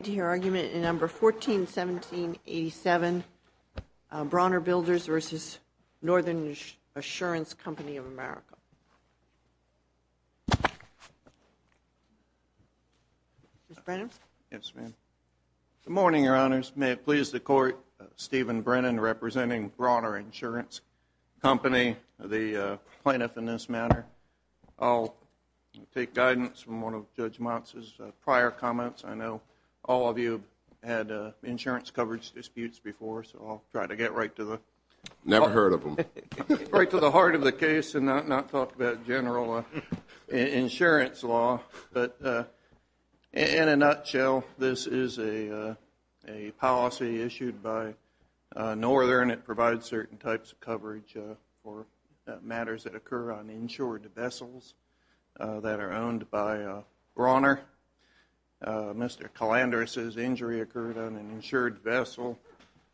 Number 141787, Brawner Builders v. Northern Assurance Company of America. Mr. Brennan. Yes, ma'am. Good morning, Your Honors. May it please the Court, Stephen Brennan, representing Brawner Insurance Company, the plaintiff in this matter. I'll take guidance from one of Judge Motz's prior comments. I know all of you had insurance coverage disputes before, so I'll try to get right to the heart of the case and not talk about general insurance law. But in a nutshell, this is a policy issued by Northern. It provides certain types of coverage for matters that occur on insured vessels that are owned by Brawner. Mr. Calandrus's injury occurred on an insured vessel.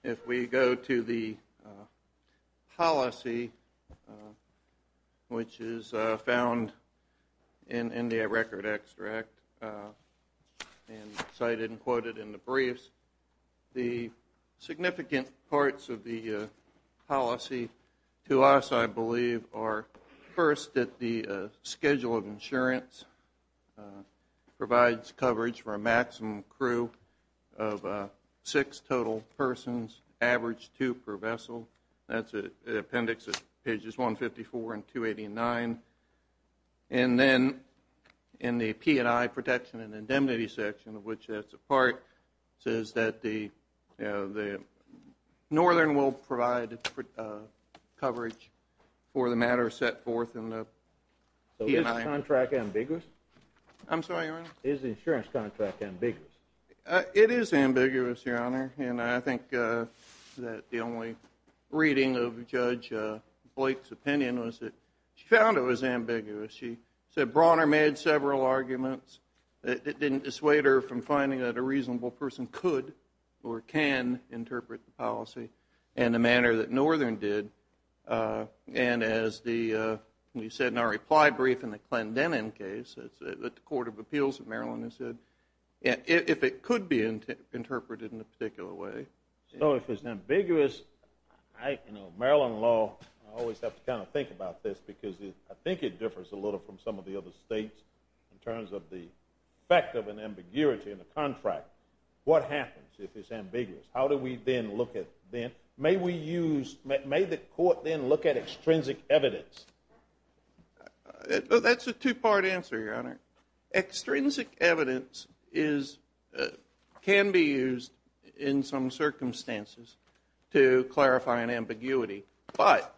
If we go to the policy, which is found in the record extract and cited and quoted in the briefs, the significant parts of the policy to us, I believe, are first that the schedule of insurance provides coverage for a maximum crew of six total persons, average two per vessel. That's an appendix at pages 154 and 289. And then in the P&I protection and indemnity section, of which that's a part, it says that Northern will provide coverage for the matter set forth in the P&I. Is the contract ambiguous? I'm sorry, Your Honor? Is the insurance contract ambiguous? It is ambiguous, Your Honor, and I think that the only reading of Judge Blake's opinion was that she found it was ambiguous. She said Brawner made several arguments that didn't dissuade her from finding that a reasonable person could or can interpret the policy in the manner that Northern did. And as we said in our reply brief in the Clendenin case that the Court of Appeals of Maryland has said, if it could be interpreted in a particular way. So if it's ambiguous, I, you know, Maryland law, I always have to kind of think about this because I think it differs a little from some of the other states in terms of the effect of an ambiguity in a contract. What happens if it's ambiguous? How do we then look at then? May we use, may the Court then look at extrinsic evidence? That's a two-part answer, Your Honor. Extrinsic evidence is, can be used in some circumstances to clarify an ambiguity. But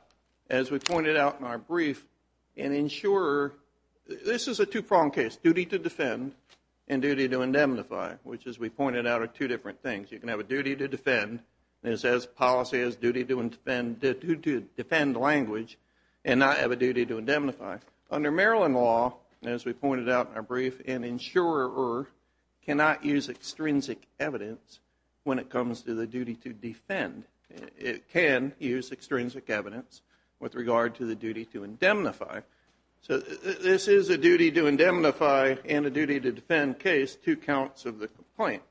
as we pointed out in our brief, an insurer, this is a two-pronged case. Duty to defend and duty to indemnify, which as we pointed out are two different things. You can have a duty to defend, and it says policy has duty to defend language and not have a duty to indemnify. Under Maryland law, as we pointed out in our brief, an insurer cannot use extrinsic evidence when it comes to the duty to defend. It can use extrinsic evidence with regard to the duty to indemnify. So this is a duty to indemnify and a duty to defend case, two counts of the complaint.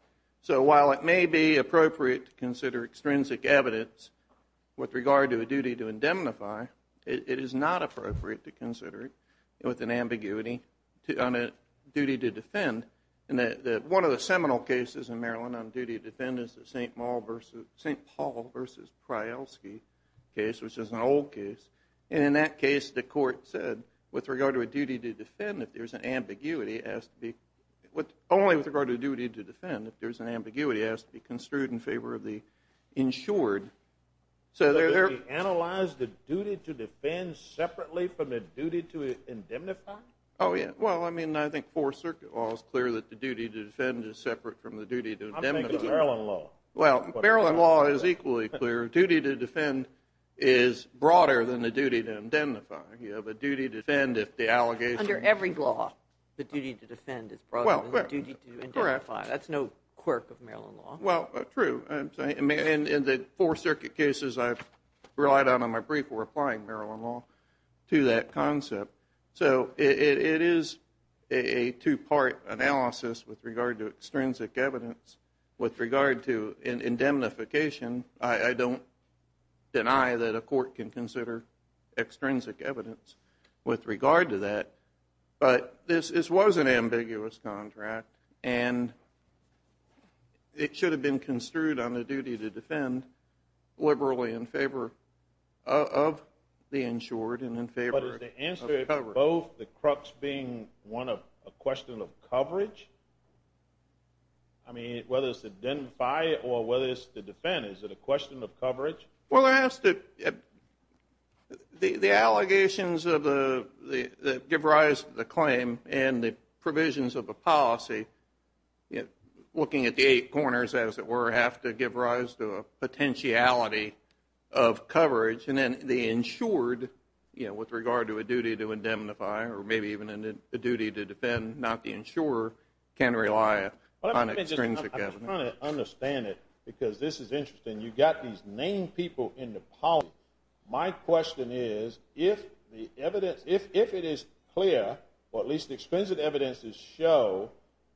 So while it may be appropriate to consider extrinsic evidence with regard to a duty to indemnify, it is not appropriate to consider it with an ambiguity on a duty to defend. One of the seminal cases in Maryland on duty to defend is the St. Paul v. Pryalski case, which is an old case. And in that case, the court said with regard to a duty to defend, if there's an ambiguity, it has to be, only with regard to a duty to defend, if there's an ambiguity, it has to be construed in favor of the insured. So they analyzed the duty to defend separately from the duty to indemnify? Oh, yeah. Well, I mean, I think Fourth Circuit law is clear that the duty to defend is separate from the duty to indemnify. I'm thinking of Maryland law. Well, Maryland law is equally clear. Your duty to defend is broader than the duty to indemnify. You have a duty to defend if the allegation is true. Under every law, the duty to defend is broader than the duty to indemnify. That's no quirk of Maryland law. Well, true. In the Fourth Circuit cases I've relied on in my brief, we're applying Maryland law to that concept. So it is a two-part analysis with regard to extrinsic evidence. With regard to indemnification, I don't deny that a court can consider extrinsic evidence with regard to that. But this was an ambiguous contract, and it should have been construed on the duty to defend, liberally in favor of the insured and in favor of coverage. But is the answer at both the crux being a question of coverage? I mean, whether it's to indemnify or whether it's to defend, is it a question of coverage? Well, the allegations that give rise to the claim and the provisions of the policy, looking at the eight corners, as it were, have to give rise to a potentiality of coverage. And then the insured, with regard to a duty to indemnify, or maybe even a duty to defend, not the insurer, can rely on extrinsic evidence. I'm trying to understand it, because this is interesting. You've got these named people in the policy. My question is, if the evidence, if it is clear, or at least the extensive evidence to show,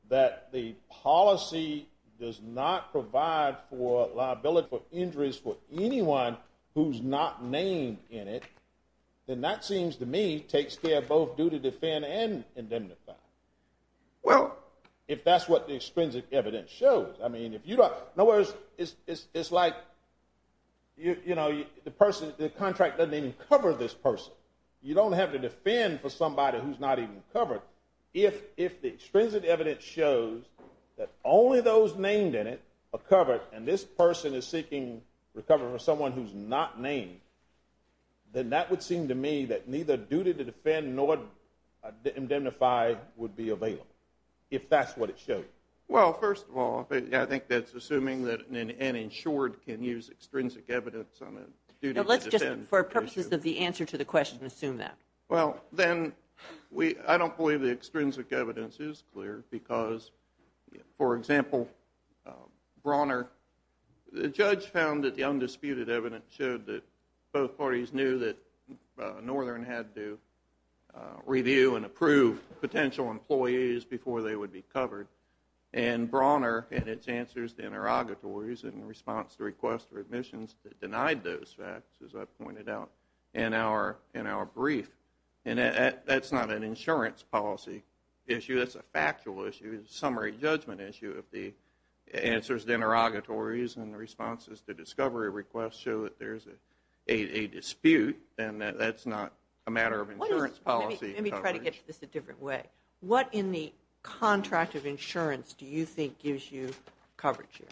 that the policy does not provide for liability for injuries for anyone who's not named in it, then that seems to me takes care of both duty to defend and indemnify. Well, if that's what the extrinsic evidence shows. I mean, if you don't know where it's like, you know, the contract doesn't even cover this person. You don't have to defend for somebody who's not even covered. If the extrinsic evidence shows that only those named in it are covered, and this person is seeking recovery from someone who's not named, then that would seem to me that neither duty to defend nor indemnify would be available, if that's what it shows. Well, first of all, I think that's assuming that an insured can use extrinsic evidence on a duty to defend. Let's just, for purposes of the answer to the question, assume that. Well, then I don't believe the extrinsic evidence is clear, because, for example, Brawner, the judge found that the undisputed evidence showed that both parties knew that Northern had to review and approve potential employees before they would be covered, and Brawner had its answers to interrogatories in response to requests for admissions that denied those facts, as I pointed out in our brief, and that's not an insurance policy issue. That's a factual issue. It's a summary judgment issue. If the answers to interrogatories and the responses to discovery requests show that there's a dispute, then that's not a matter of insurance policy coverage. Let me try to get to this a different way. What in the contract of insurance do you think gives you coverage here?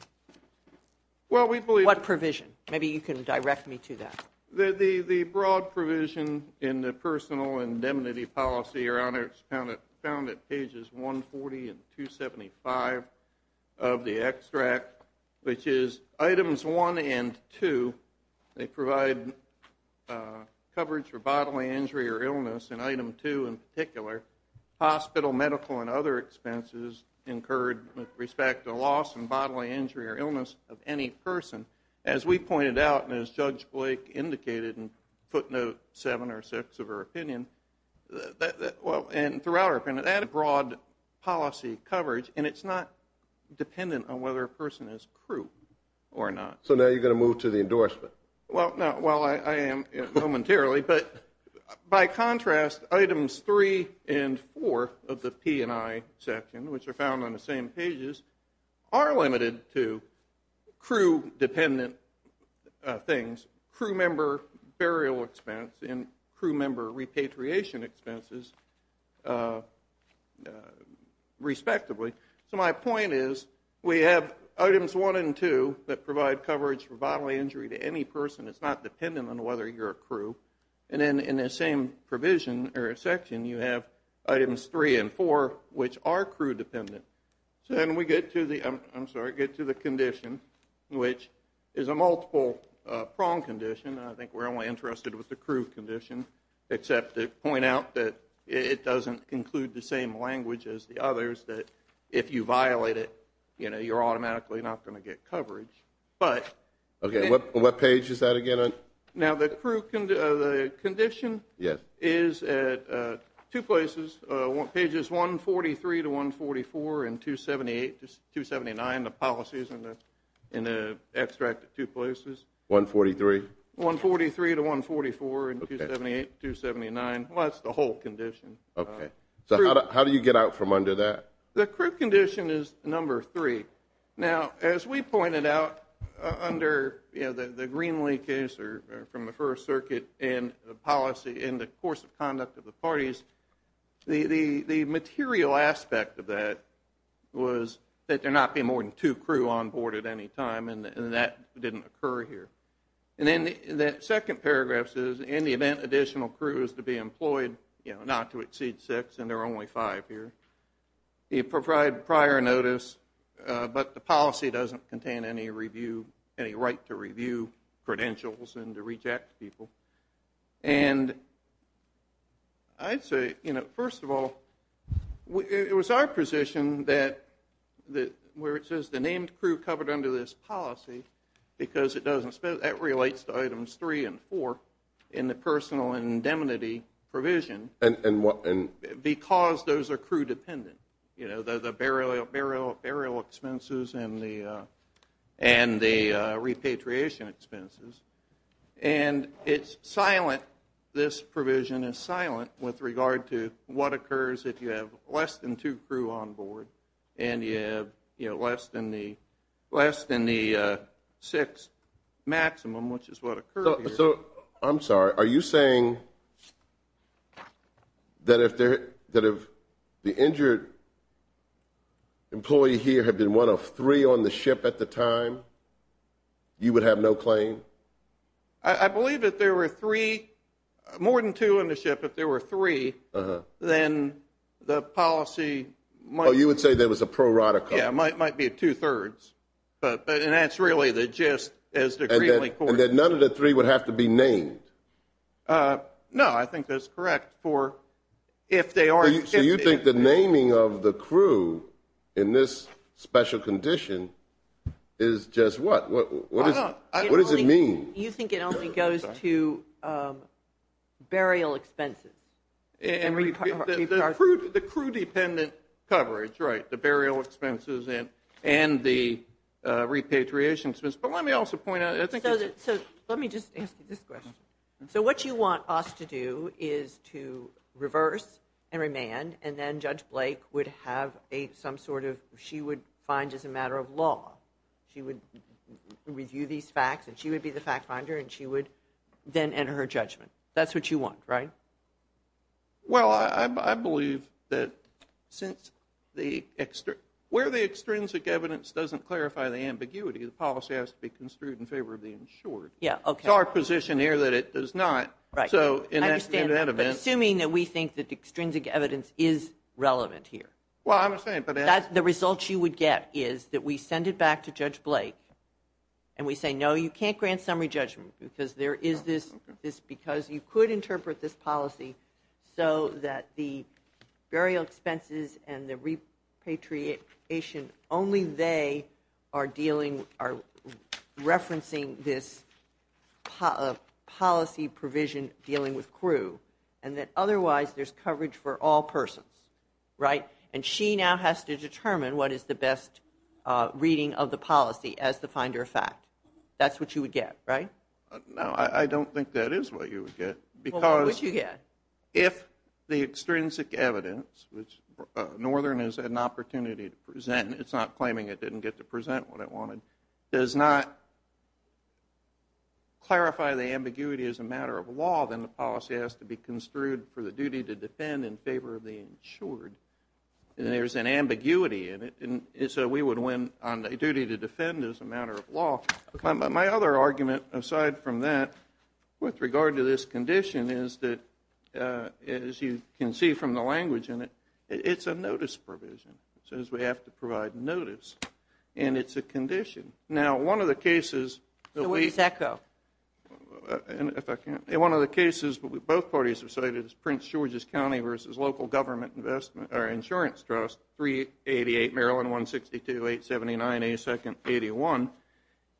What provision? Maybe you can direct me to that. The broad provision in the personal indemnity policy around it is found at Pages 140 and 275 of the extract, which is Items 1 and 2. They provide coverage for bodily injury or illness, and Item 2 in particular, hospital, medical, and other expenses incurred with respect to loss and bodily injury or illness of any person. As we pointed out and as Judge Blake indicated in footnote 7 or 6 of her opinion, and throughout her opinion, that broad policy coverage, and it's not dependent on whether a person is crew or not. So now you're going to move to the endorsement. Well, I am momentarily, but by contrast, Items 3 and 4 of the P&I section, which are found on the same pages, are limited to crew-dependent things, crew member burial expense and crew member repatriation expenses, respectively. So my point is we have Items 1 and 2 that provide coverage for bodily injury to any person. It's not dependent on whether you're a crew. And then in the same provision or section, you have Items 3 and 4, which are crew-dependent. So then we get to the condition, which is a multiple-prong condition. I think we're only interested with the crew condition, except to point out that it doesn't include the same language as the others, that if you violate it, you're automatically not going to get coverage. Okay. What page is that again? Now the crew condition is at two places, pages 143-144 and 278-279, the policies in the extract at two places. 143? 143-144 and 278-279. Well, that's the whole condition. Okay. So how do you get out from under that? The crew condition is number three. Now, as we pointed out under the Greenlee case from the First Circuit and the policy in the course of conduct of the parties, the material aspect of that was that there not be more than two crew on board at any time, and that didn't occur here. And then that second paragraph says, in the event additional crew is to be employed, not to exceed six, and there are only five here, you provide prior notice, but the policy doesn't contain any right to review credentials and to reject people. And I'd say, you know, first of all, it was our position that where it says the named crew covered under this policy, because that relates to items three and four in the personal indemnity provision, because those are crew dependent, you know, the burial expenses and the repatriation expenses. And it's silent, this provision is silent, with regard to what occurs if you have less than two crew on board and you have less than the six maximum, which is what occurred here. So I'm sorry. Are you saying that if the injured employee here had been one of three on the ship at the time, you would have no claim? I believe that there were three, more than two on the ship, if there were three, then the policy might be. Oh, you would say there was a prorotical. Yeah, it might be two-thirds, and that's really the gist. And that none of the three would have to be named? No, I think that's correct for if they are. So you think the naming of the crew in this special condition is just what? What does it mean? You think it only goes to burial expenses. The crew dependent coverage, right, the burial expenses and the repatriation expenses. So let me just ask you this question. So what you want us to do is to reverse and remand, and then Judge Blake would have some sort of, she would find as a matter of law, she would review these facts and she would be the fact finder and she would then enter her judgment. That's what you want, right? Well, I believe that where the extrinsic evidence doesn't clarify the ambiguity, the policy has to be construed in favor of the insured. It's our position here that it does not. I understand that, but assuming that we think that the extrinsic evidence is relevant here. Well, I understand. The results you would get is that we send it back to Judge Blake and we say, no, you can't grant summary judgment because there is this, because you could interpret this policy so that the burial expenses and the repatriation, only they are dealing, are referencing this policy provision dealing with crew, and that otherwise there's coverage for all persons, right? And she now has to determine what is the best reading of the policy as the finder of fact. That's what you would get, right? No, I don't think that is what you would get because if the extrinsic evidence, which Northern has had an opportunity to present, it's not claiming it didn't get to present what it wanted, does not clarify the ambiguity as a matter of law, then the policy has to be construed for the duty to defend in favor of the insured. And there's an ambiguity in it, so we would win on the duty to defend as a matter of law. My other argument aside from that with regard to this condition is that, as you can see from the language in it, it's a notice provision. It says we have to provide notice, and it's a condition. Now, one of the cases that we – So where does that go? If I can. One of the cases that both parties have cited is Prince George's County versus local government insurance trust, 388 Maryland 162-879-8281.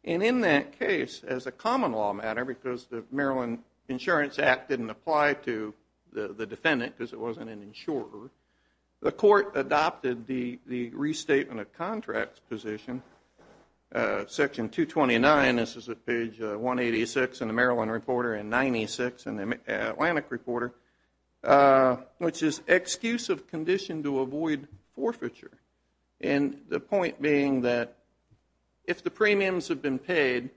And in that case, as a common law matter, because the Maryland Insurance Act didn't apply to the defendant because it wasn't an insurer, the court adopted the Restatement of Contracts position, Section 229. This is at page 186 in the Maryland Reporter and 96 in the Atlantic Reporter, which is excuse of condition to avoid forfeiture. And the point being that if the premiums have been paid,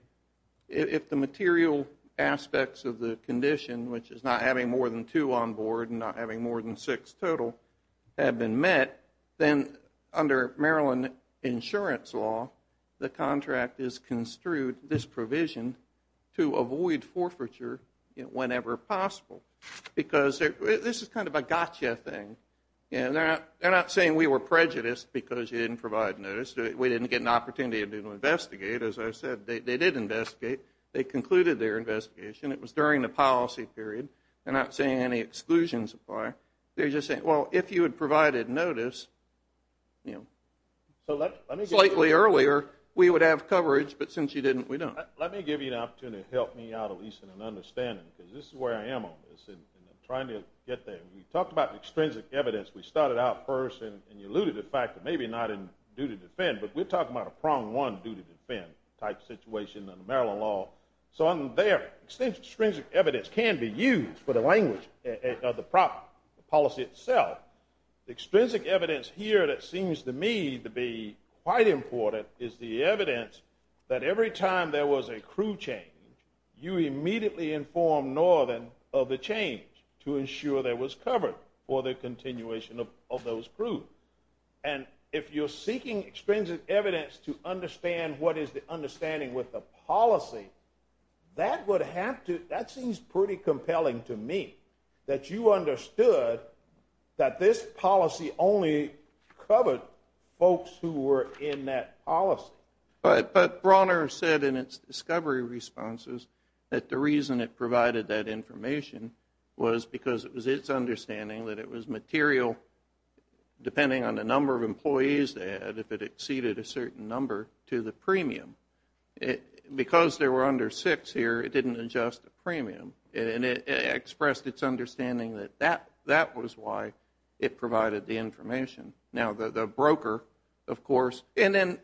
if the material aspects of the condition, which is not having more than two on board and not having more than six total, have been met, then under Maryland insurance law, the contract is construed, this provision, to avoid forfeiture whenever possible. Because this is kind of a gotcha thing. And they're not saying we were prejudiced because you didn't provide notice. We didn't get an opportunity to investigate. As I said, they did investigate. They concluded their investigation. It was during the policy period. They're not saying any exclusions apply. They're just saying, well, if you had provided notice slightly earlier, we would have coverage, but since you didn't, we don't. Let me give you an opportunity to help me out at least in an understanding, because this is where I am on this, and I'm trying to get there. We talked about extrinsic evidence. We started out first, and you alluded to the fact that maybe not in due to defend, but we're talking about a prong one due to defend type situation under Maryland law. So there, extrinsic evidence can be used for the language of the policy itself. Extrinsic evidence here that seems to me to be quite important is the evidence that every time there was a crew change, you immediately informed Northern of the change to ensure there was cover for the continuation of those crews. And if you're seeking extrinsic evidence to understand what is the understanding with the policy, that would have to – that seems pretty compelling to me, that you understood that this policy only covered folks who were in that policy. But Bronner said in its discovery responses that the reason it provided that information was because it was its understanding that it was material, depending on the number of employees they had, if it exceeded a certain number, to the premium. Because there were under six here, it didn't adjust the premium, and it expressed its understanding that that was why it provided the information. Now, the broker, of course – and then,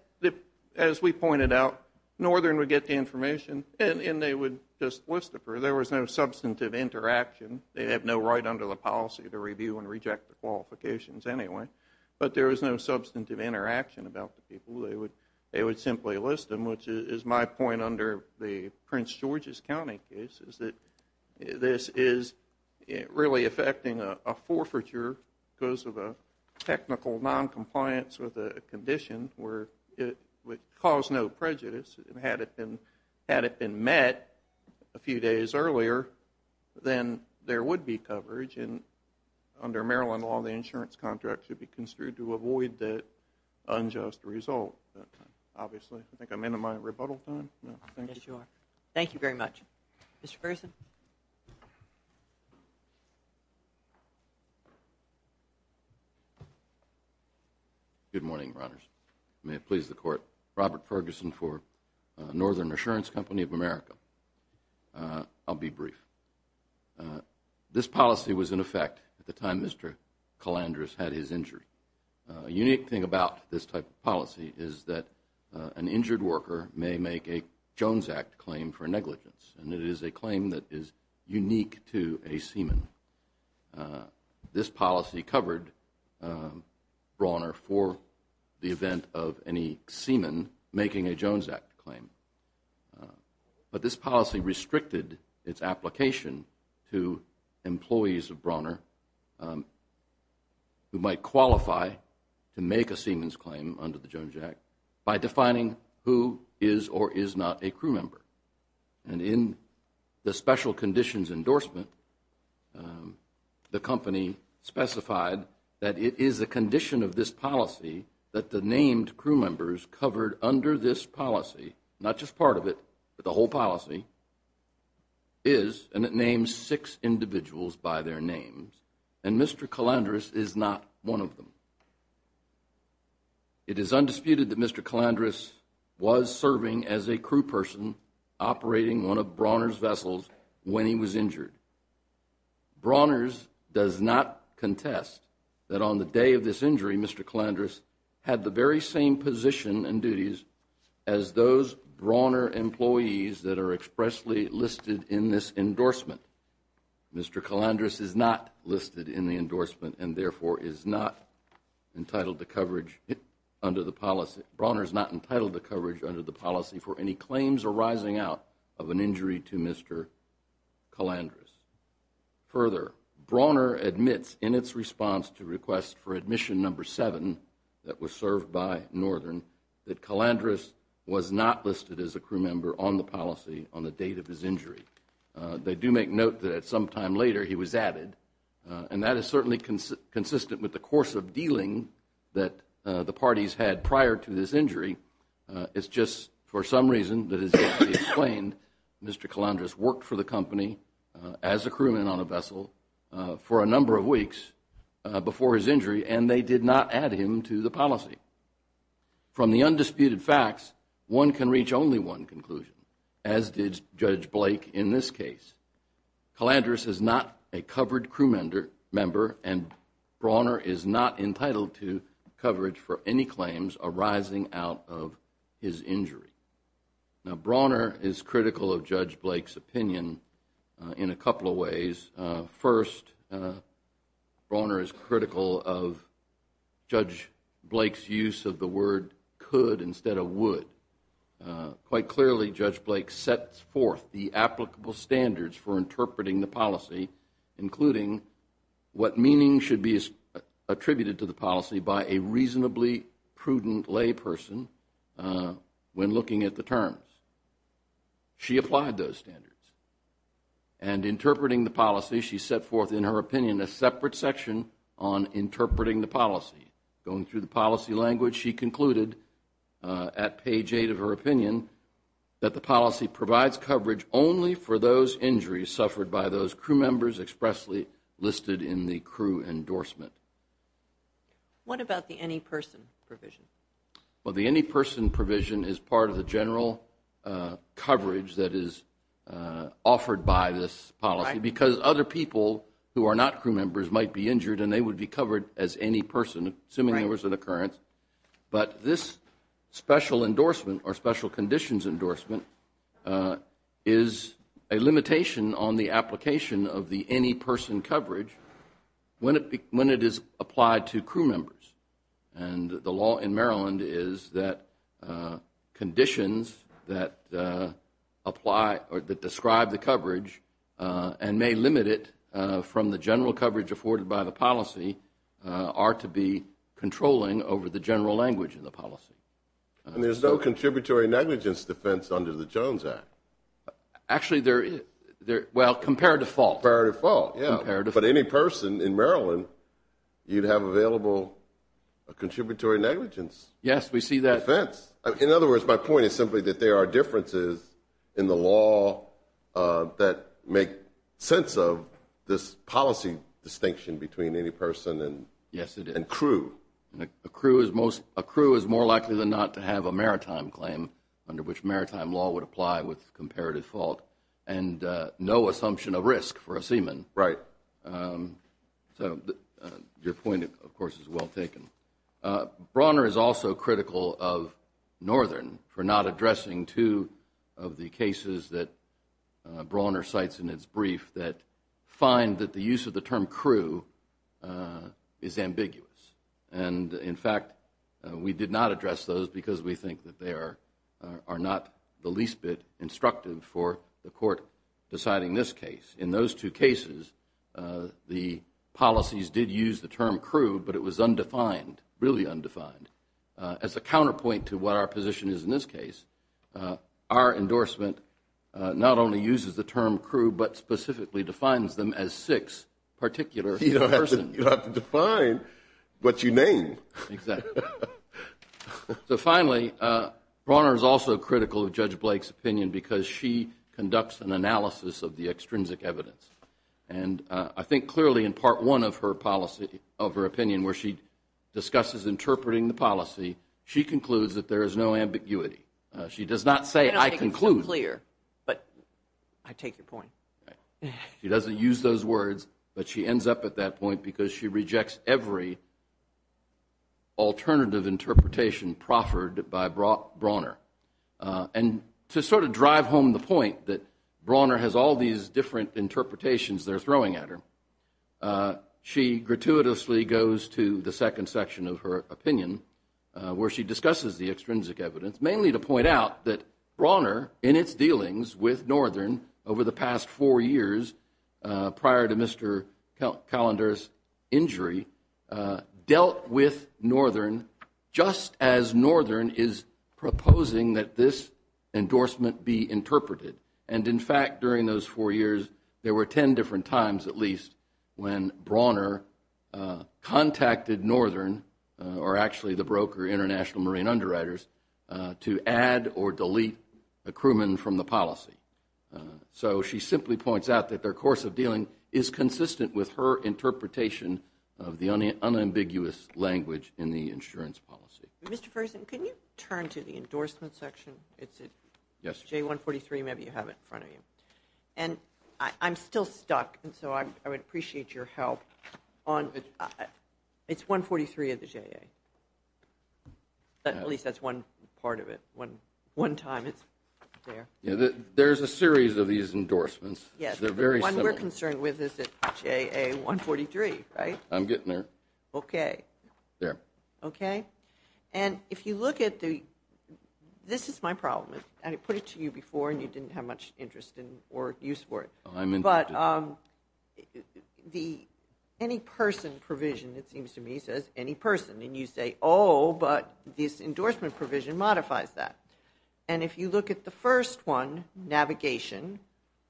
as we pointed out, Northern would get the information and they would just list it. There was no substantive interaction. They have no right under the policy to review and reject the qualifications anyway. But there was no substantive interaction about the people. They would simply list them, which is my point under the Prince George's County case, is that this is really affecting a forfeiture because of a technical noncompliance with a condition where it would cause no prejudice. Had it been met a few days earlier, then there would be coverage, and under Maryland law, the insurance contract should be construed to avoid that unjust result. Obviously, I think I'm into my rebuttal time. Thank you very much. Good morning, Your Honors. May it please the Court. Robert Ferguson for Northern Insurance Company of America. I'll be brief. This policy was in effect at the time Mr. Calandrus had his injury. A unique thing about this type of policy is that an injured worker may make a Jones Act claim for negligence, and it is a claim that is unique to a seaman. This policy covered Brawner for the event of any seaman making a Jones Act claim. But this policy restricted its application to employees of Brawner who might qualify to make a seaman's claim under the Jones Act by defining who is or is not a crew member. And in the special conditions endorsement, the company specified that it is a condition of this policy that the named crew members covered under this policy, not just part of it, but the whole policy, is and it names six individuals by their names, and Mr. Calandrus is not one of them. It is undisputed that Mr. Calandrus was serving as a crew person operating one of Brawner's vessels when he was injured. Brawner's does not contest that on the day of this injury, Mr. Calandrus had the very same position and duties as those Brawner employees that are expressly listed in this endorsement. Mr. Calandrus is not listed in the endorsement and therefore is not entitled to coverage under the policy. Brawner is not entitled to coverage under the policy for any claims arising out of an injury to Mr. Calandrus. Further, Brawner admits in its response to requests for admission number seven that was served by Northern that Calandrus was not listed as a crew member on the policy on the date of his injury. They do make note that at some time later he was added, and that is certainly consistent with the course of dealing that the parties had prior to this injury. It's just for some reason that has yet to be explained, Mr. Calandrus worked for the company as a crewman on a vessel for a number of weeks before his injury, and they did not add him to the policy. From the undisputed facts, one can reach only one conclusion, as did Judge Blake in this case. Calandrus is not a covered crew member, and Brawner is not entitled to coverage for any claims arising out of his injury. Now, Brawner is critical of Judge Blake's opinion in a couple of ways. First, Brawner is critical of Judge Blake's use of the word could instead of would. Quite clearly, Judge Blake sets forth the applicable standards for interpreting the policy, including what meaning should be attributed to the policy by a reasonably prudent layperson when looking at the terms. She applied those standards. And interpreting the policy, she set forth in her opinion a separate section on interpreting the policy. Going through the policy language, she concluded at page eight of her opinion that the policy provides coverage only for those injuries suffered by those crew members expressly listed in the crew endorsement. What about the any person provision? Well, the any person provision is part of the general coverage that is offered by this policy, because other people who are not crew members might be injured and they would be covered as any person, assuming there was an occurrence. But this special endorsement or special conditions endorsement is a limitation on the application of the any person coverage when it is applied to crew members. And the law in Maryland is that conditions that apply or that describe the coverage and may limit it from the general coverage afforded by the policy are to be controlling over the general language of the policy. And there's no contributory negligence defense under the Jones Act? Actually, there is. Well, comparative fault. Comparative fault, yeah. Comparative fault. Because in Maryland, you'd have available a contributory negligence defense. Yes, we see that. In other words, my point is simply that there are differences in the law that make sense of this policy distinction between any person and crew. Yes, it is. A crew is more likely than not to have a maritime claim under which maritime law would apply with comparative fault and no assumption of risk for a seaman. Right. So your point, of course, is well taken. Brawner is also critical of Northern for not addressing two of the cases that Brawner cites in its brief that find that the use of the term crew is ambiguous. And, in fact, we did not address those because we think that they are not the least bit instructive for the court deciding this case. In those two cases, the policies did use the term crew, but it was undefined, really undefined. As a counterpoint to what our position is in this case, our endorsement not only uses the term crew but specifically defines them as six particular persons. You don't have to define what you name. Exactly. So, finally, Brawner is also critical of Judge Blake's opinion because she conducts an analysis of the extrinsic evidence. And I think clearly in part one of her policy, of her opinion, where she discusses interpreting the policy, she concludes that there is no ambiguity. She does not say, I conclude. I don't make it so clear, but I take your point. She doesn't use those words, but she ends up at that point because she rejects every alternative interpretation proffered by Brawner. And to sort of drive home the point that Brawner has all these different interpretations they're throwing at her, she gratuitously goes to the second section of her opinion where she discusses the extrinsic evidence, mainly to point out that Brawner, in its dealings with Northern over the past four years prior to Mr. Calander's injury, dealt with Northern just as Northern is proposing that this endorsement be interpreted. And, in fact, during those four years there were ten different times at least when Brawner contacted Northern, or actually the broker International Marine Underwriters, to add or delete a crewman from the policy. So she simply points out that their course of dealing is consistent with her interpretation of the unambiguous language in the insurance policy. Mr. Ferguson, can you turn to the endorsement section? It's at J143, maybe you have it in front of you. And I'm still stuck, and so I would appreciate your help. It's 143 at the JA. At least that's one part of it, one time it's there. Yeah, there's a series of these endorsements. Yes. They're very similar. The one we're concerned with is at JA 143, right? I'm getting there. Okay. There. Okay. And if you look at the, this is my problem, and I put it to you before and you didn't have much interest or use for it. I'm interested. But the any person provision, it seems to me, says any person. And you say, oh, but this endorsement provision modifies that. And if you look at the first one, navigation,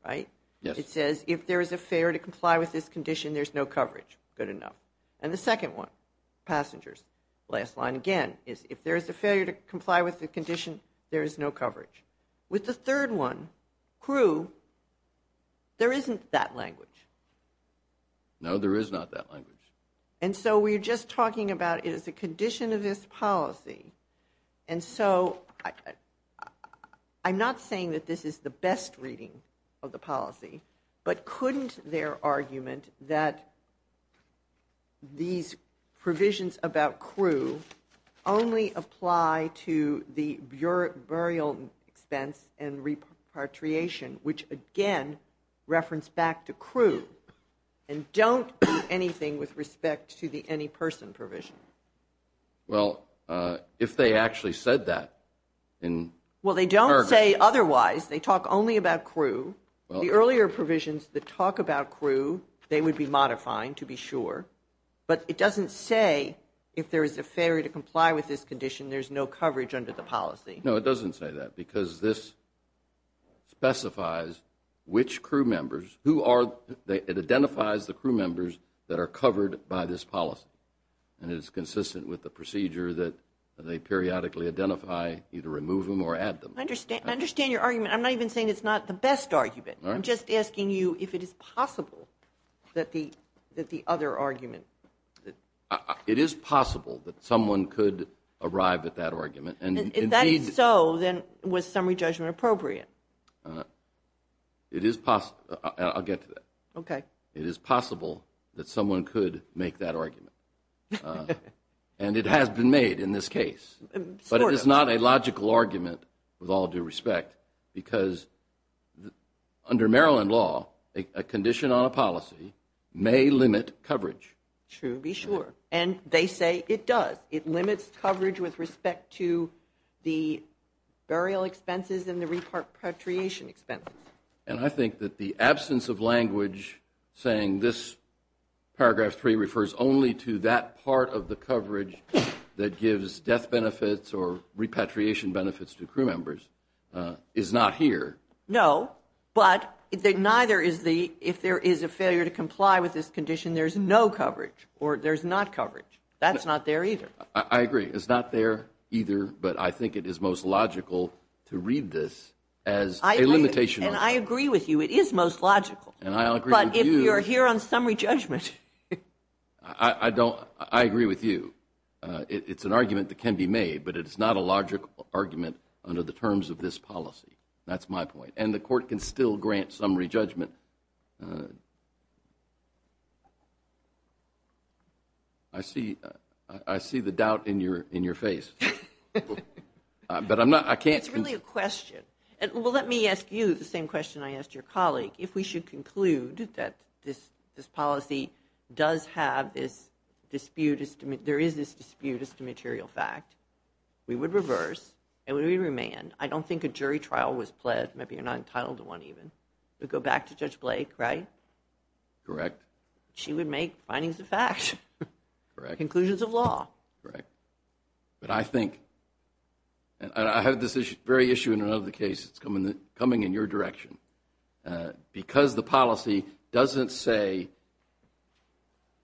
right? Yes. It says if there is a fare to comply with this condition, there's no coverage. Good enough. And the second one, passengers, last line again, is if there is a fare to comply with the condition, there is no coverage. With the third one, crew, there isn't that language. No, there is not that language. And so we're just talking about it is a condition of this policy. And so I'm not saying that this is the best reading of the policy. But couldn't their argument that these provisions about crew only apply to the burial expense and repatriation, which again reference back to crew and don't do anything with respect to the any person provision? Well, if they actually said that. Well, they don't say otherwise. They talk only about crew. The earlier provisions that talk about crew, they would be modifying, to be sure. But it doesn't say if there is a fare to comply with this condition, there's no coverage under the policy. No, it doesn't say that because this specifies which crew members, who are, it identifies the crew members that are covered by this policy. And it is consistent with the procedure that they periodically identify, either remove them or add them. I understand your argument. I'm not even saying it's not the best argument. I'm just asking you if it is possible that the other argument. It is possible that someone could arrive at that argument. And if that is so, then was summary judgment appropriate? It is possible. I'll get to that. Okay. It is possible that someone could make that argument. And it has been made in this case. But it is not a logical argument, with all due respect, because under Maryland law, a condition on a policy may limit coverage. To be sure. And they say it does. It limits coverage with respect to the burial expenses and the repatriation expenses. And I think that the absence of language saying this paragraph three refers only to that part of the coverage that gives death benefits or repatriation benefits to crew members is not here. No. But neither is the, if there is a failure to comply with this condition, there's no coverage or there's not coverage. That's not there either. I agree. It's not there either. But I think it is most logical to read this as a limitation. And I agree with you. It is most logical. And I agree with you. But if you're here on summary judgment. I don't, I agree with you. It's an argument that can be made, but it's not a logical argument under the terms of this policy. That's my point. And the court can still grant summary judgment. I see, I see the doubt in your face. But I'm not, I can't. It's really a question. Well, let me ask you the same question I asked your colleague. If we should conclude that this policy does have this dispute, there is this dispute, it's a material fact, we would reverse and we would remain. I don't think a jury trial was pled. Maybe you're not entitled to one even. We'd go back to Judge Blake, right? Correct. She would make findings of fact. Correct. Conclusions of law. Correct. But I think, and I have this very issue in another case that's coming in your direction. Because the policy doesn't say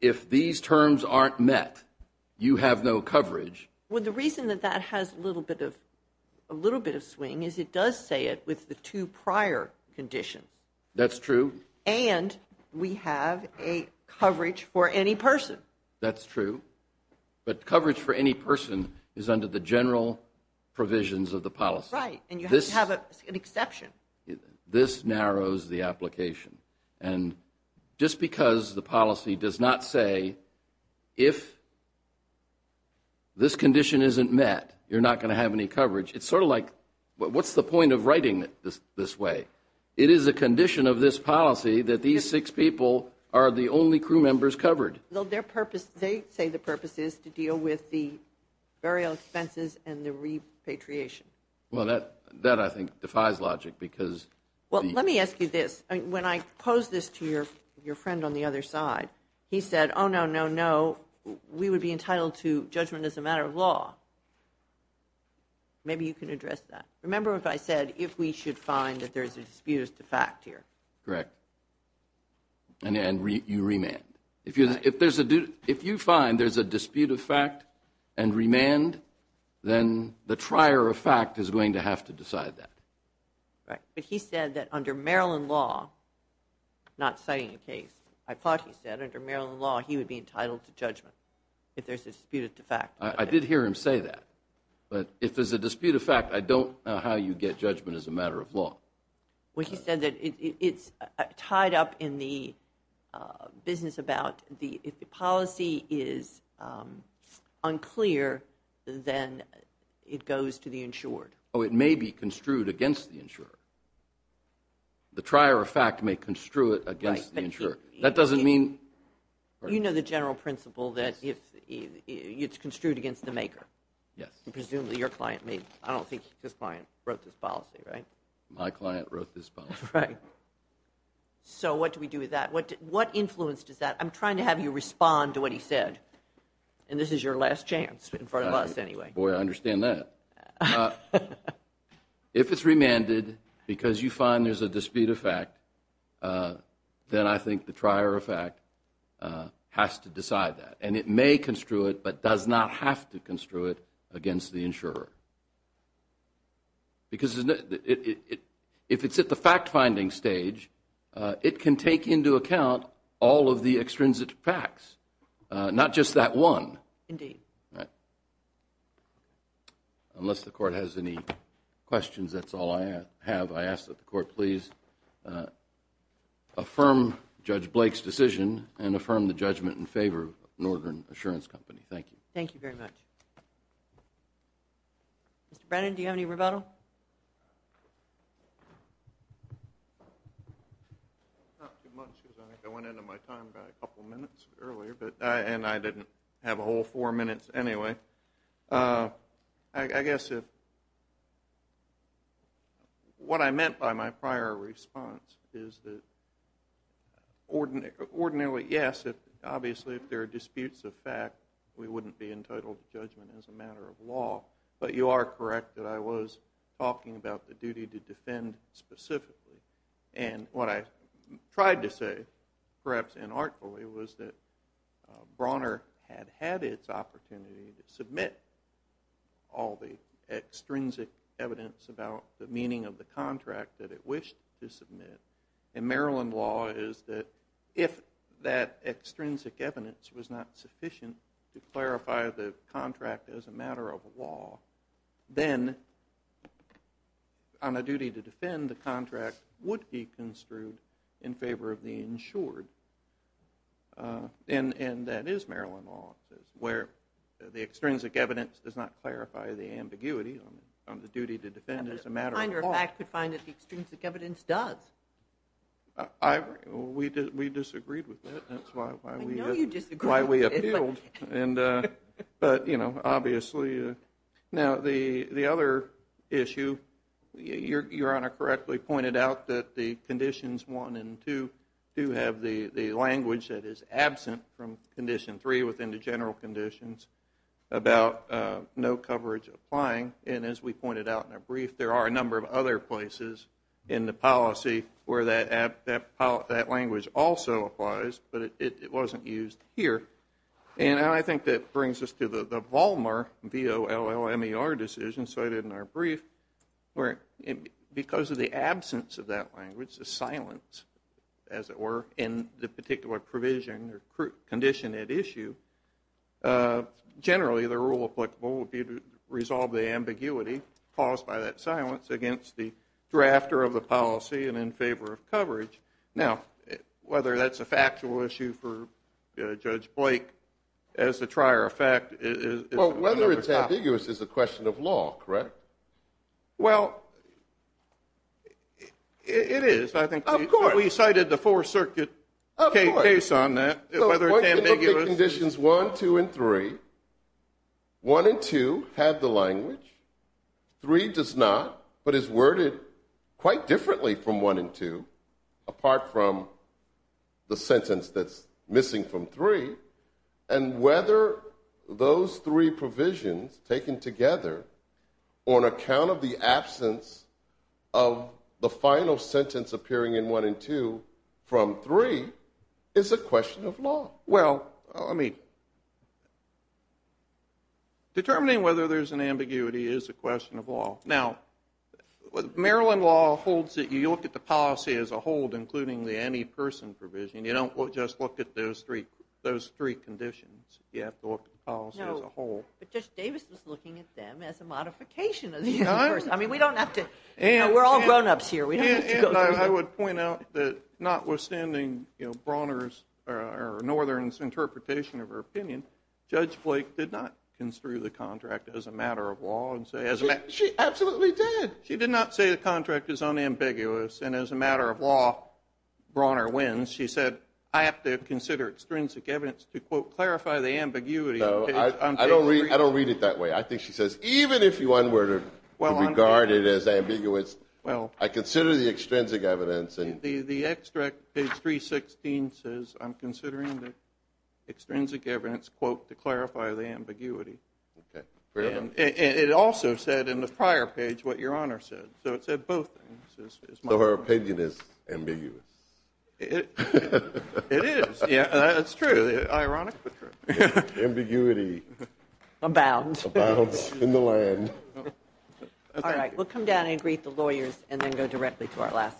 if these terms aren't met, you have no coverage. Well, the reason that that has a little bit of swing is it does say it with the two prior conditions. That's true. And we have a coverage for any person. That's true. But coverage for any person is under the general provisions of the policy. Right, and you have an exception. This narrows the application. And just because the policy does not say if this condition isn't met, you're not going to have any coverage. It's sort of like, what's the point of writing it this way? It is a condition of this policy that these six people are the only crew members covered. Well, their purpose, they say the purpose is to deal with the burial expenses and the repatriation. Well, that I think defies logic because. Well, let me ask you this. When I posed this to your friend on the other side, he said, oh, no, no, no. We would be entitled to judgment as a matter of law. Maybe you can address that. Remember if I said if we should find that there's a dispute as to fact here. Correct. And you remand. If you find there's a dispute of fact and remand, then the trier of fact is going to have to decide that. Right. But he said that under Maryland law, not citing a case, I thought he said under Maryland law, he would be entitled to judgment if there's a dispute of fact. I did hear him say that. But if there's a dispute of fact, I don't know how you get judgment as a matter of law. Well, he said that it's tied up in the business about the policy is unclear, then it goes to the insured. Oh, it may be construed against the insurer. The trier of fact may construe it against the insurer. That doesn't mean – You know the general principle that it's construed against the maker. Yes. Presumably your client made – I don't think his client wrote this policy, right? My client wrote this policy. Right. So what do we do with that? What influence does that – I'm trying to have you respond to what he said, and this is your last chance in front of us anyway. Boy, I understand that. If it's remanded because you find there's a dispute of fact, then I think the trier of fact has to decide that. And it may construe it but does not have to construe it against the insurer. Because if it's at the fact-finding stage, it can take into account all of the extrinsic facts, not just that one. Indeed. Unless the court has any questions, that's all I have. I ask that the court please affirm Judge Blake's decision and affirm the judgment in favor of Northern Assurance Company. Thank you. Thank you very much. Mr. Brennan, do you have any rebuttal? No. Not too much because I think I went into my time by a couple minutes earlier, and I didn't have a whole four minutes anyway. I guess what I meant by my prior response is that ordinarily, yes, obviously if there are disputes of fact, we wouldn't be entitled to judgment as a matter of law. But you are correct that I was talking about the duty to defend specifically. And what I tried to say, perhaps inarticulately, was that Brawner had had its opportunity to submit all the extrinsic evidence about the meaning of the contract that it wished to submit. And Maryland law is that if that extrinsic evidence was not sufficient to clarify the contract as a matter of law, then on a duty to defend the contract would be construed in favor of the insured. And that is Maryland law, where the extrinsic evidence does not clarify the ambiguity on the duty to defend as a matter of law. A finder of fact could find that the extrinsic evidence does. We disagreed with that. I know you disagreed with it. That's why we appealed. But, you know, obviously. Now, the other issue, Your Honor correctly pointed out that the conditions 1 and 2 do have the language that is absent from condition 3 within the general conditions about no coverage applying. And as we pointed out in our brief, there are a number of other places in the policy where that language also applies, but it wasn't used here. And I think that brings us to the Vollmer, V-O-L-L-M-E-R decision cited in our brief, where because of the absence of that language, the silence, as it were, in the particular provision or condition at issue, generally the rule applicable would be to resolve the ambiguity caused by that silence against the drafter of the policy and in favor of coverage. Now, whether that's a factual issue for Judge Blake as a trier of fact is another topic. Well, whether it's ambiguous is a question of law, correct? Well, it is. Of course. We cited the Fourth Circuit case on that, whether it's ambiguous. State conditions 1, 2, and 3, 1 and 2 have the language, 3 does not, but is worded quite differently from 1 and 2 apart from the sentence that's missing from 3, and whether those three provisions taken together on account of the absence of the final sentence appearing in 1 and 2 from 3 is a question of law. Well, I mean, determining whether there's an ambiguity is a question of law. Now, Maryland law holds that you look at the policy as a whole, including the antiperson provision. You don't just look at those three conditions. You have to look at the policy as a whole. No, but Judge Davis was looking at them as a modification of the antiperson. I mean, we don't have to – we're all grownups here. I would point out that notwithstanding Brawner's or Northern's interpretation of her opinion, Judge Blake did not construe the contract as a matter of law. She absolutely did. She did not say the contract is unambiguous, and as a matter of law, Brawner wins. She said, I have to consider extrinsic evidence to, quote, clarify the ambiguity. I don't read it that way. I think she says, even if you were to regard it as ambiguous, I consider the extrinsic evidence. The extract, page 316, says, I'm considering the extrinsic evidence, quote, to clarify the ambiguity. And it also said in the prior page what Your Honor said. So it said both things. So her opinion is ambiguous. It is. It's true. Ironically true. Ambiguity. Abound. Abounds in the land. All right. We'll come down and greet the lawyers and then go directly to our last case.